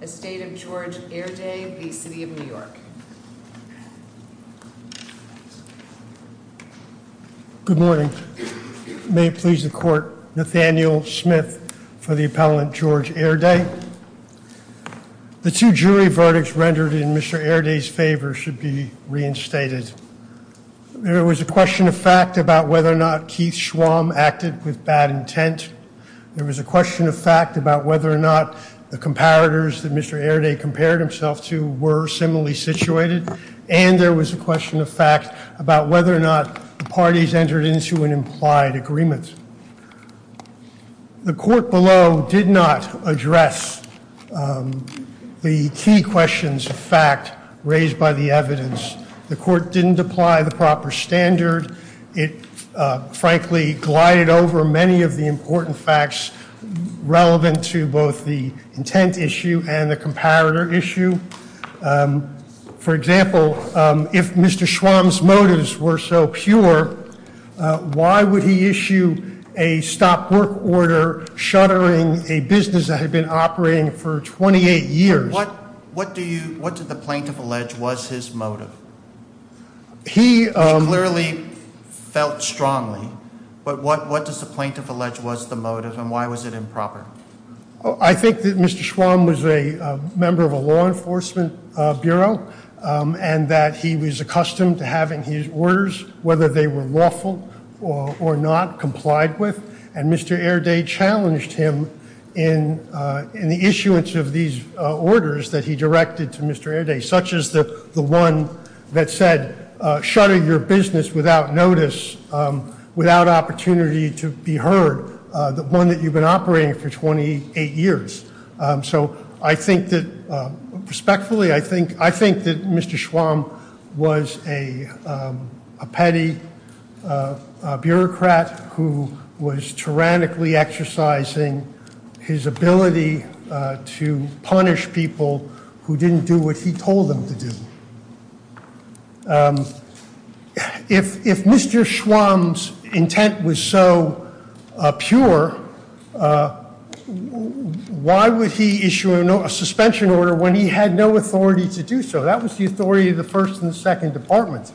Estate of George Airday v. The City of New York Good morning. May it please the court. Nathaniel Smith for the appellant George Airday. The two jury verdicts rendered in Mr. Airday's favor should be reinstated. There was a question of fact about whether or not Keith Schwamm acted with bad intent. There was a question of whether or not the comparators that Mr. Airday compared himself to were similarly situated. And there was a question of fact about whether or not the parties entered into an implied agreement. The court below did not address the key questions of fact raised by the evidence. The court didn't apply the proper standard. It frankly glided over many of the important facts relevant to both the intent issue and the comparator issue. For example, if Mr. Schwamm's motives were so pure, why would he issue a stop work order shuttering a business that had been operating for 28 years? What did the plaintiff allege was his motive? He clearly felt strongly, but what does the plaintiff allege was the motive and why was it improper? I think that Mr. Schwamm was a member of a law enforcement bureau and that he was accustomed to having his orders, whether they were lawful or not, complied with. And Mr. Airday challenged him in the issuance of these orders that he directed to Mr. Airday, such as the the one that said shutter your business without notice, without opportunity to be ordered, the one that you've been operating for 28 years. So I think that respectfully, I think that Mr. Schwamm was a petty bureaucrat who was tyrannically exercising his ability to punish people who didn't do what he told them to do. If Mr. Schwamm's intent was so pure, why would he issue a suspension order when he had no authority to do so? That was the authority of the first and second departments.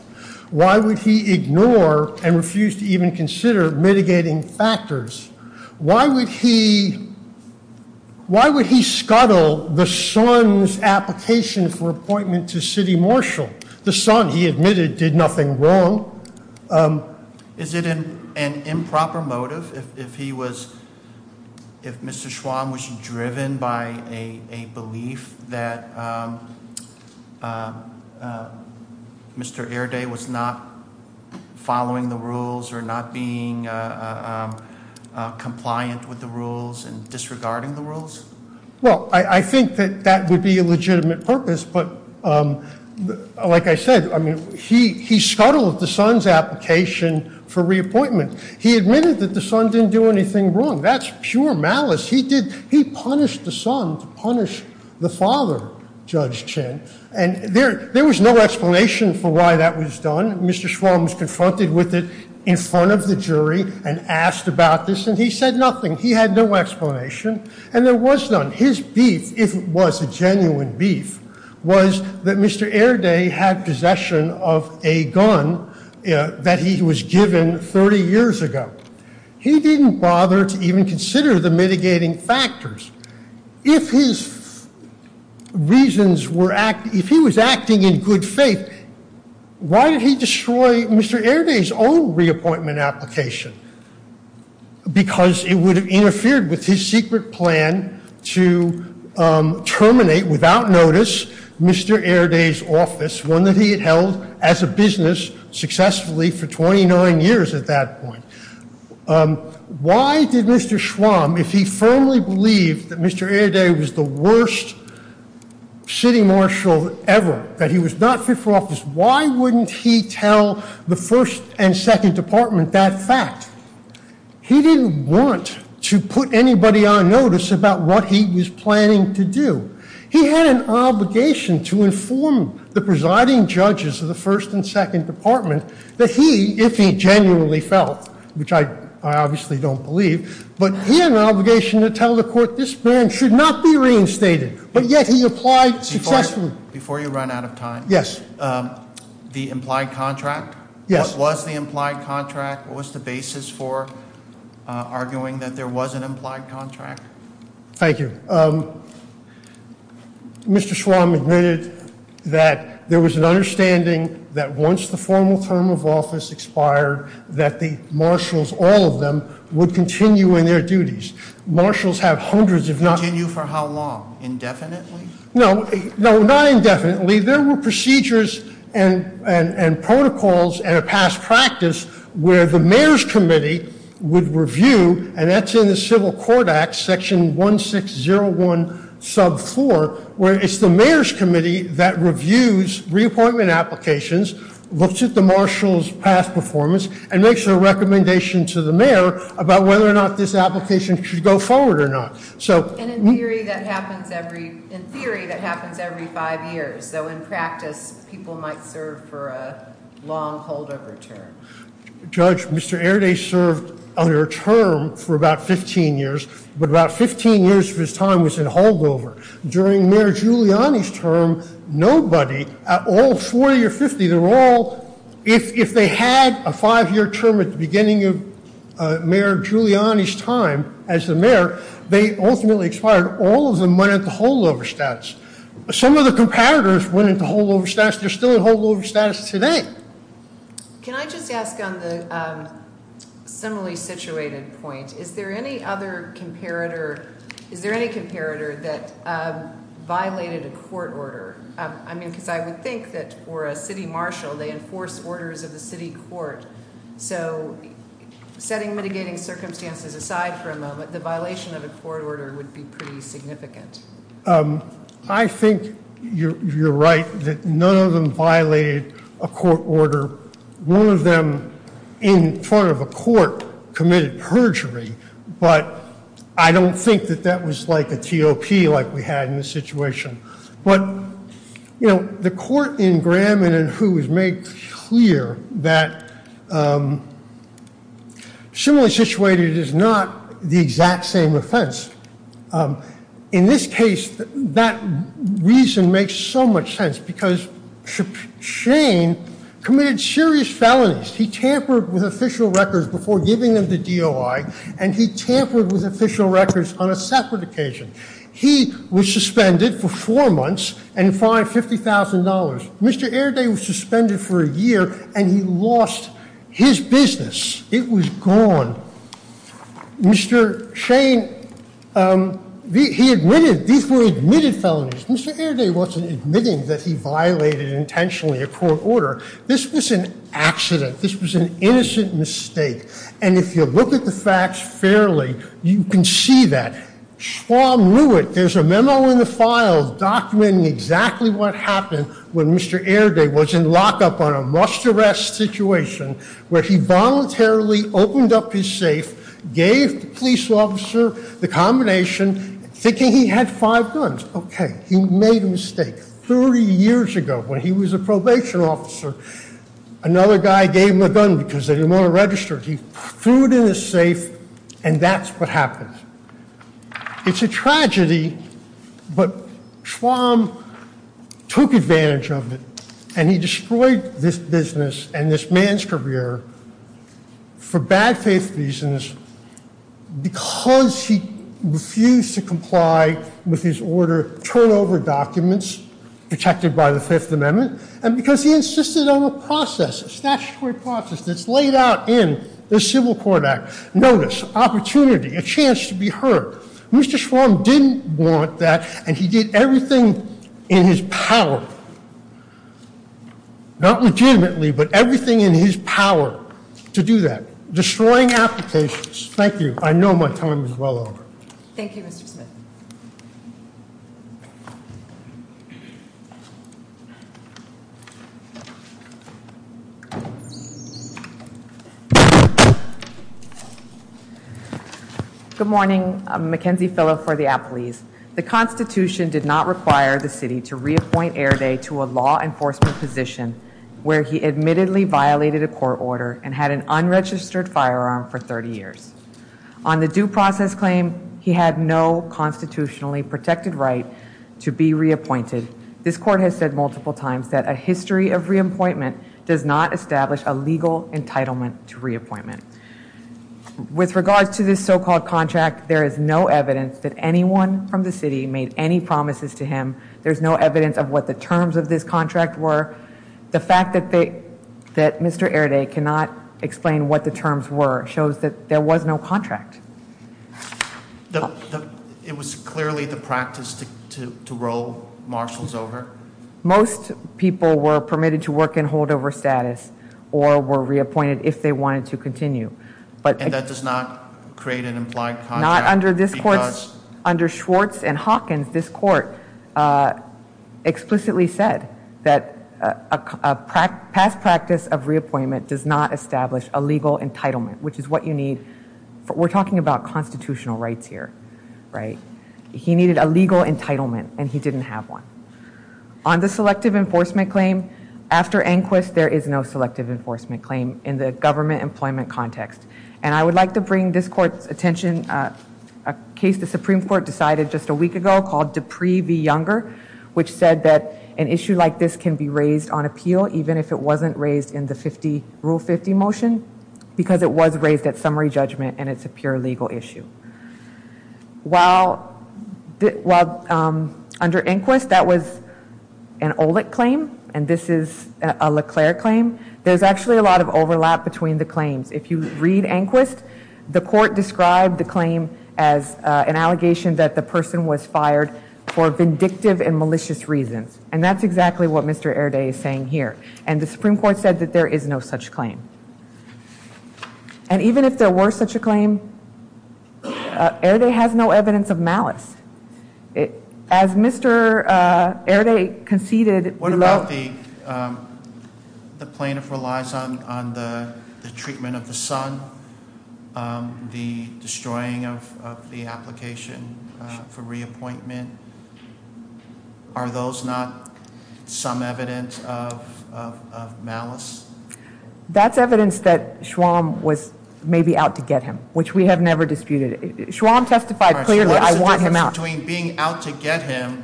Why would he ignore and refuse to even consider mitigating factors? Why would he scuttle the son's application for appointment to city marshal? The son, he admitted, did nothing wrong. Is it an improper motive if he was, if Mr. Schwamm was driven by a belief that Mr. Airday was not following the rules or not being compliant with the legitimate purpose? But like I said, I mean, he scuttled the son's application for reappointment. He admitted that the son didn't do anything wrong. That's pure malice. He did, he punished the son to punish the father, Judge Chin. And there there was no explanation for why that was done. Mr. Schwamm was confronted with it in front of the jury and asked about this and he said nothing. He had no beef was that Mr. Airday had possession of a gun that he was given 30 years ago. He didn't bother to even consider the mitigating factors. If his reasons were act, if he was acting in good faith, why did he destroy Mr. Airday's own reappointment application? Because it would have interfered with his secret plan to terminate, without notice, Mr. Airday's office, one that he had held as a business successfully for 29 years at that point. Why did Mr. Schwamm, if he firmly believed that Mr. Airday was the worst city marshal ever, that he was not fit for office, why wouldn't he tell the first and second department that fact? He didn't want to put anybody on notice about what he was planning to do. He had an obligation to inform the presiding judges of the first and second department that he, if he genuinely felt, which I obviously don't believe, but he had an obligation to tell the court this plan should not be reinstated, but yet he applied successfully. Before you run out of time, yes, the implied contract, what was the implied contract? What was the basis for arguing that there was an implied contract? Thank you. Mr. Schwamm admitted that there was an understanding that once the formal term of office expired, that the marshals, all of them, would continue in their duties. Marshals have hundreds, if not... Continue for how long? Indefinitely? No, no, not indefinitely. There were procedures and protocols and a past practice where the mayor's committee would review, and that's in the Civil Court Act, section 1601 sub 4, where it's the mayor's committee that reviews reappointment applications, looks at the marshals past performance, and makes a recommendation to the mayor about whether or not this application should go forward or not. So... So in practice, people might serve for a long holdover term. Judge, Mr. Airdae served under a term for about 15 years, but about 15 years of his time was in holdover. During Mayor Giuliani's term, nobody at all, 40 or 50, they were all... If they had a five-year term at the beginning of Mayor Giuliani's time as the mayor, they ultimately expired. All of them went at the holdover status. Some of the comparators went at the holdover status. They're still in holdover status today. Can I just ask on the similarly situated point, is there any other comparator, is there any comparator that violated a court order? I mean, because I would think that for a city marshal, they enforce orders of the city court. So, setting mitigating circumstances aside for a moment, the violation of a court order would be pretty significant. I think you're right that none of them violated a court order. One of them, in front of a court, committed perjury, but I don't think that that was like a T.O.P. like we had in the situation. But, you know, the court in Graham and in Who was made clear that similarly situated is not the exact same offense. In this case, that reason makes so much sense because Shane committed serious felonies. He tampered with official records before giving them the DOI, and he tampered with official records on a separate occasion. He was suspended for four months and fined $50,000. Mr. Airday was suspended for a month. He lost his business. It was gone. Mr. Shane, he admitted, these were admitted felonies. Mr. Airday wasn't admitting that he violated intentionally a court order. This was an accident. This was an innocent mistake, and if you look at the facts fairly, you can see that. Schwalm knew it. There's a memo in the file documenting exactly what happened when Mr. Airday was in lockup on a must- situation where he voluntarily opened up his safe, gave the police officer the combination, thinking he had five guns. Okay, he made a mistake. Thirty years ago, when he was a probation officer, another guy gave him a gun because they didn't want to register it. He threw it in his safe, and that's what happened. It's a tragedy, but Schwalm took advantage of it, and he destroyed this business and this man's career for bad faith reasons because he refused to comply with his order, turnover documents protected by the Fifth Amendment, and because he insisted on a process, a statutory process that's laid out in the Civil Court Act. Notice, opportunity, a chance to be heard. Mr. Schwalm didn't want that, and he did everything in his power, not legitimately, but everything in his power to do that, destroying applications. Thank you. I know my time is well over. Thank you, Mr. Smith. Good morning. Mackenzie Fillo for the Appalese. The Constitution did not require the city to reappoint Airday to a law enforcement position where he admittedly violated a court order and had an unregistered firearm for 30 years. On the due process claim, he had no constitutionally protected right to be reappointed. This court has said multiple times that a history of reappointment does not establish a legal entitlement to reappointment. With regards to this so-called contract, there is no evidence that anyone from the city made any promises to him. There's no evidence of what the terms of this contract were. The fact that they, that Mr. Airday cannot explain what the terms were shows that there was no contract. It was clearly the practice to roll marshals over? Most people were permitted to work in holdover status or were reappointed if they wanted to continue. And that does not create an implied contract? Not under this court. Under Schwartz and Hawkins, this court explicitly said that a past practice of reappointment does not establish a legal entitlement, which is what you need. We're talking about constitutional rights here, right? He needed a legal entitlement and he didn't have one. On the selective enforcement claim, after Enquist there is no selective enforcement claim in the government employment context. And I would like to bring this court's attention a case the Supreme Court decided just a week ago called Dupree v. Younger, which said that an issue like this can be raised on appeal even if it was raised at summary judgment and it's a pure legal issue. While under Enquist that was an OLEC claim and this is a Leclerc claim, there's actually a lot of overlap between the claims. If you read Enquist, the court described the claim as an allegation that the person was fired for vindictive and malicious reasons. And that's exactly what Mr. Airday is saying here. And the Supreme Court did not have such a claim. And even if there were such a claim, Airday has no evidence of malice. As Mr. Airday conceded... What about the plaintiff relies on the treatment of the son, the destroying of the application for That's evidence that Schwamm was maybe out to get him, which we have never disputed. Schwamm testified clearly, I want him out. Between being out to get him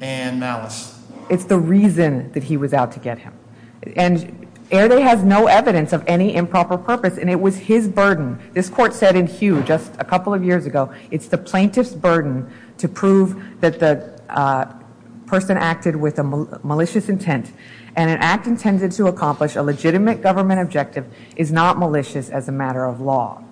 and malice. It's the reason that he was out to get him. And Airday has no evidence of any improper purpose and it was his burden. This court said in hue just a couple of years ago, it's the plaintiff's burden to prove that the person acted with a malicious intent and an act intended to accomplish a legitimate government objective is not malicious as a matter of law.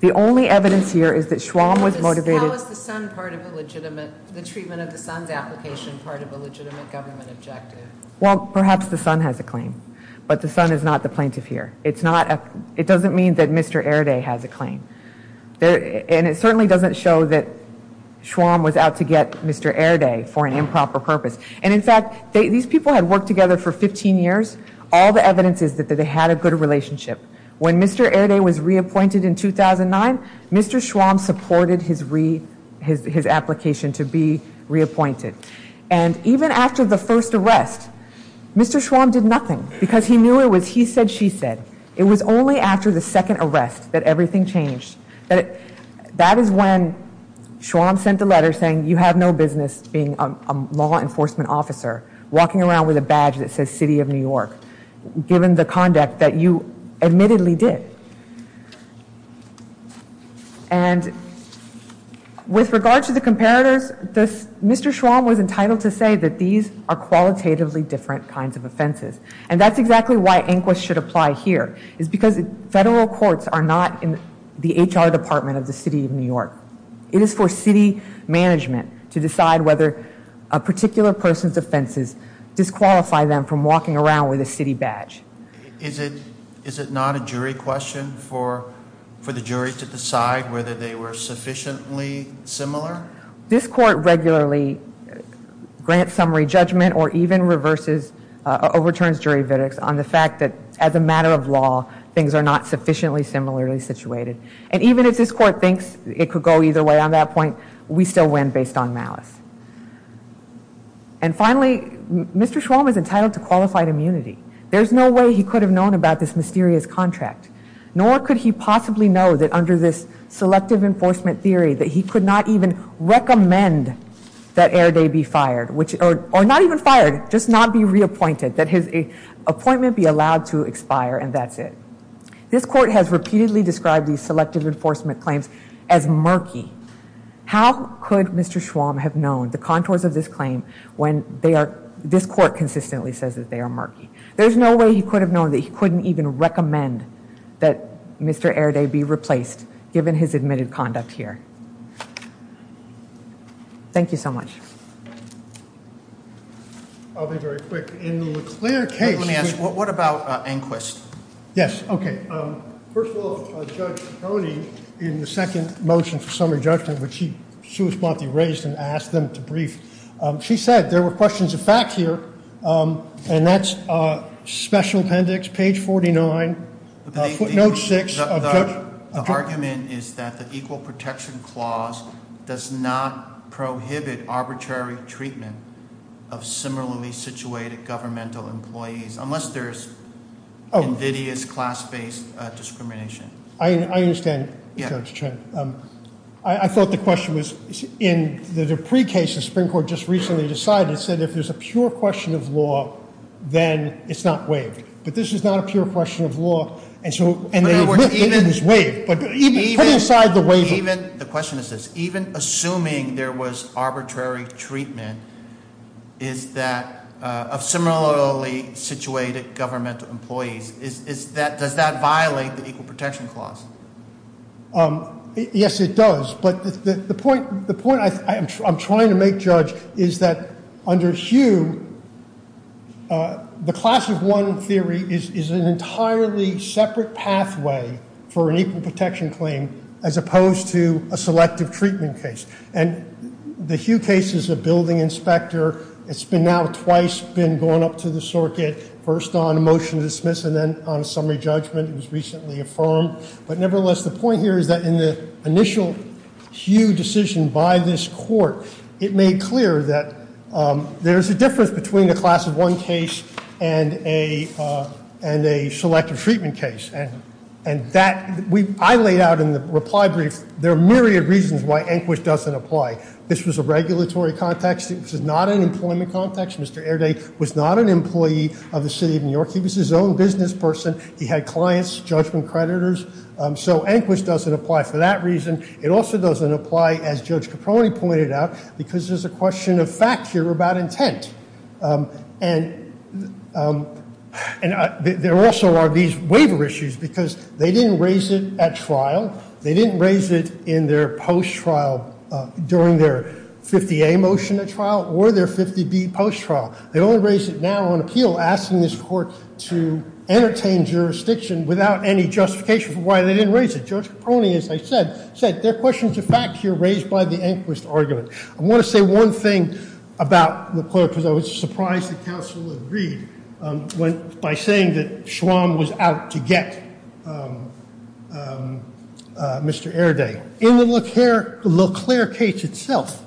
The only evidence here is that Schwamm was motivated... How is the son part of a legitimate, the treatment of the son's application part of a legitimate government objective? Well, perhaps the son has a claim. But the son is not the plaintiff here. It's not, it doesn't mean that Mr. Airday has a claim. And it certainly doesn't show that Schwamm was out to get Mr. Airday for an improper purpose. And in fact, these people had worked together for 15 years. All the evidence is that they had a good relationship. When Mr. Airday was reappointed in 2009, Mr. Schwamm supported his reapp, his application to be reappointed. And even after the first arrest, Mr. Schwamm did nothing. Because he knew it was he said, she said. It was only after the second arrest that everything changed. That is when Schwamm sent a around with a badge that says City of New York, given the conduct that you admittedly did. And with regard to the comparators, this, Mr. Schwamm was entitled to say that these are qualitatively different kinds of offenses. And that's exactly why Inquis should apply here, is because federal courts are not in the HR department of the City of New York. It is for city to decide whether a particular person's offenses disqualify them from walking around with a city badge. Is it, is it not a jury question for, for the jury to decide whether they were sufficiently similar? This court regularly grants summary judgment or even reverses, overturns jury verdicts on the fact that as a matter of law, things are not sufficiently similarly situated. And even if this court thinks it could go either way on that point, we still win based on malice. And finally, Mr. Schwamm is entitled to qualified immunity. There's no way he could have known about this mysterious contract. Nor could he possibly know that under this selective enforcement theory, that he could not even recommend that Airdrie be fired. Which, or not even fired, just not be reappointed. That his appointment be allowed to expire and that's it. This court has repeatedly described these selective enforcement claims as murky. How could Mr. Schwamm have known the contours of this claim when they are, this court consistently says that they are murky. There's no way he could have known that he couldn't even recommend that Mr. Airdrie be replaced, given his admitted conduct here. Thank you so much. I'll be very quick. In the LeClaire case... Let me ask, what about Enquist? Yes, okay. First of all, Judge Coney, in the second motion for summary judgment, which she raised and asked them to brief, she said there were questions of fact here. And that's a special appendix, page 49, footnote 6. The argument is that the treatment of similarly situated governmental employees, unless there's invidious class-based discrimination. I understand, Judge Trent. I thought the question was, in the Dupree case, the Supreme Court just recently decided, said if there's a pure question of law, then it's not waived. But this is not a pure question of law, and so... Even, the question is this, even assuming there was arbitrary treatment, is that, of similarly situated governmental employees, is that, does that violate the Equal Protection Clause? Yes, it does. But the point I'm trying to make, Judge, is that under Hugh, the class of one theory is an entirely separate pathway for an elective treatment case. And the Hugh case is a building inspector. It's been now twice been gone up to the circuit, first on a motion to dismiss and then on a summary judgment. It was recently affirmed. But nevertheless, the point here is that in the initial Hugh decision by this court, it made clear that there's a difference between the class of one case and a selective treatment case. And that, I laid out in the reply brief, there are myriad reasons why Enquist doesn't apply. This was a regulatory context. It was not an employment context. Mr. Airday was not an employee of the City of New York. He was his own business person. He had clients, judgment creditors. So Enquist doesn't apply for that reason. It also doesn't apply, as Judge Caproni pointed out, because there's a question of fact here about intent. And there also are these waiver issues, because they didn't raise it at trial. They didn't raise it in their post-trial, during their 50A motion at trial or their 50B post-trial. They only raised it now on appeal, asking this court to entertain jurisdiction without any justification for why they didn't raise it. Judge Caproni, as I said, said there are questions of fact here raised by the Enquist argument. I want to say one thing about the clerk, because I was surprised that counsel agreed by saying that Schwamm was out to get Mr. Airday. In the LeClerc case itself,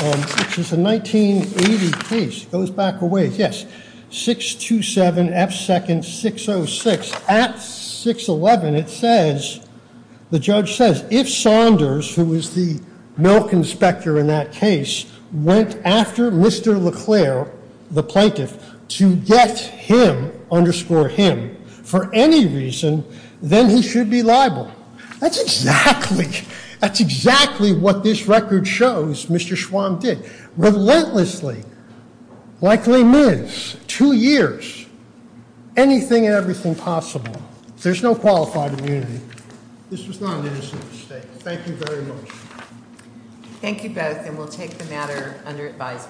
which is a 1980 case, it goes back a ways, yes, 627 F second 606, at 611 it says, the judge says, if Saunders, who was the milk inspector in that case, went after Mr. LeClerc, the plaintiff, to get him, underscore him, for any reason, then he should be liable. That's exactly, that's exactly what this record shows Mr. Schwamm did. Relentlessly, likely minutes, two years, anything and everything possible. There's no qualified immunity. This was not an innocent mistake. Thank you very much. Thank you both, and we'll take the matter under advisement.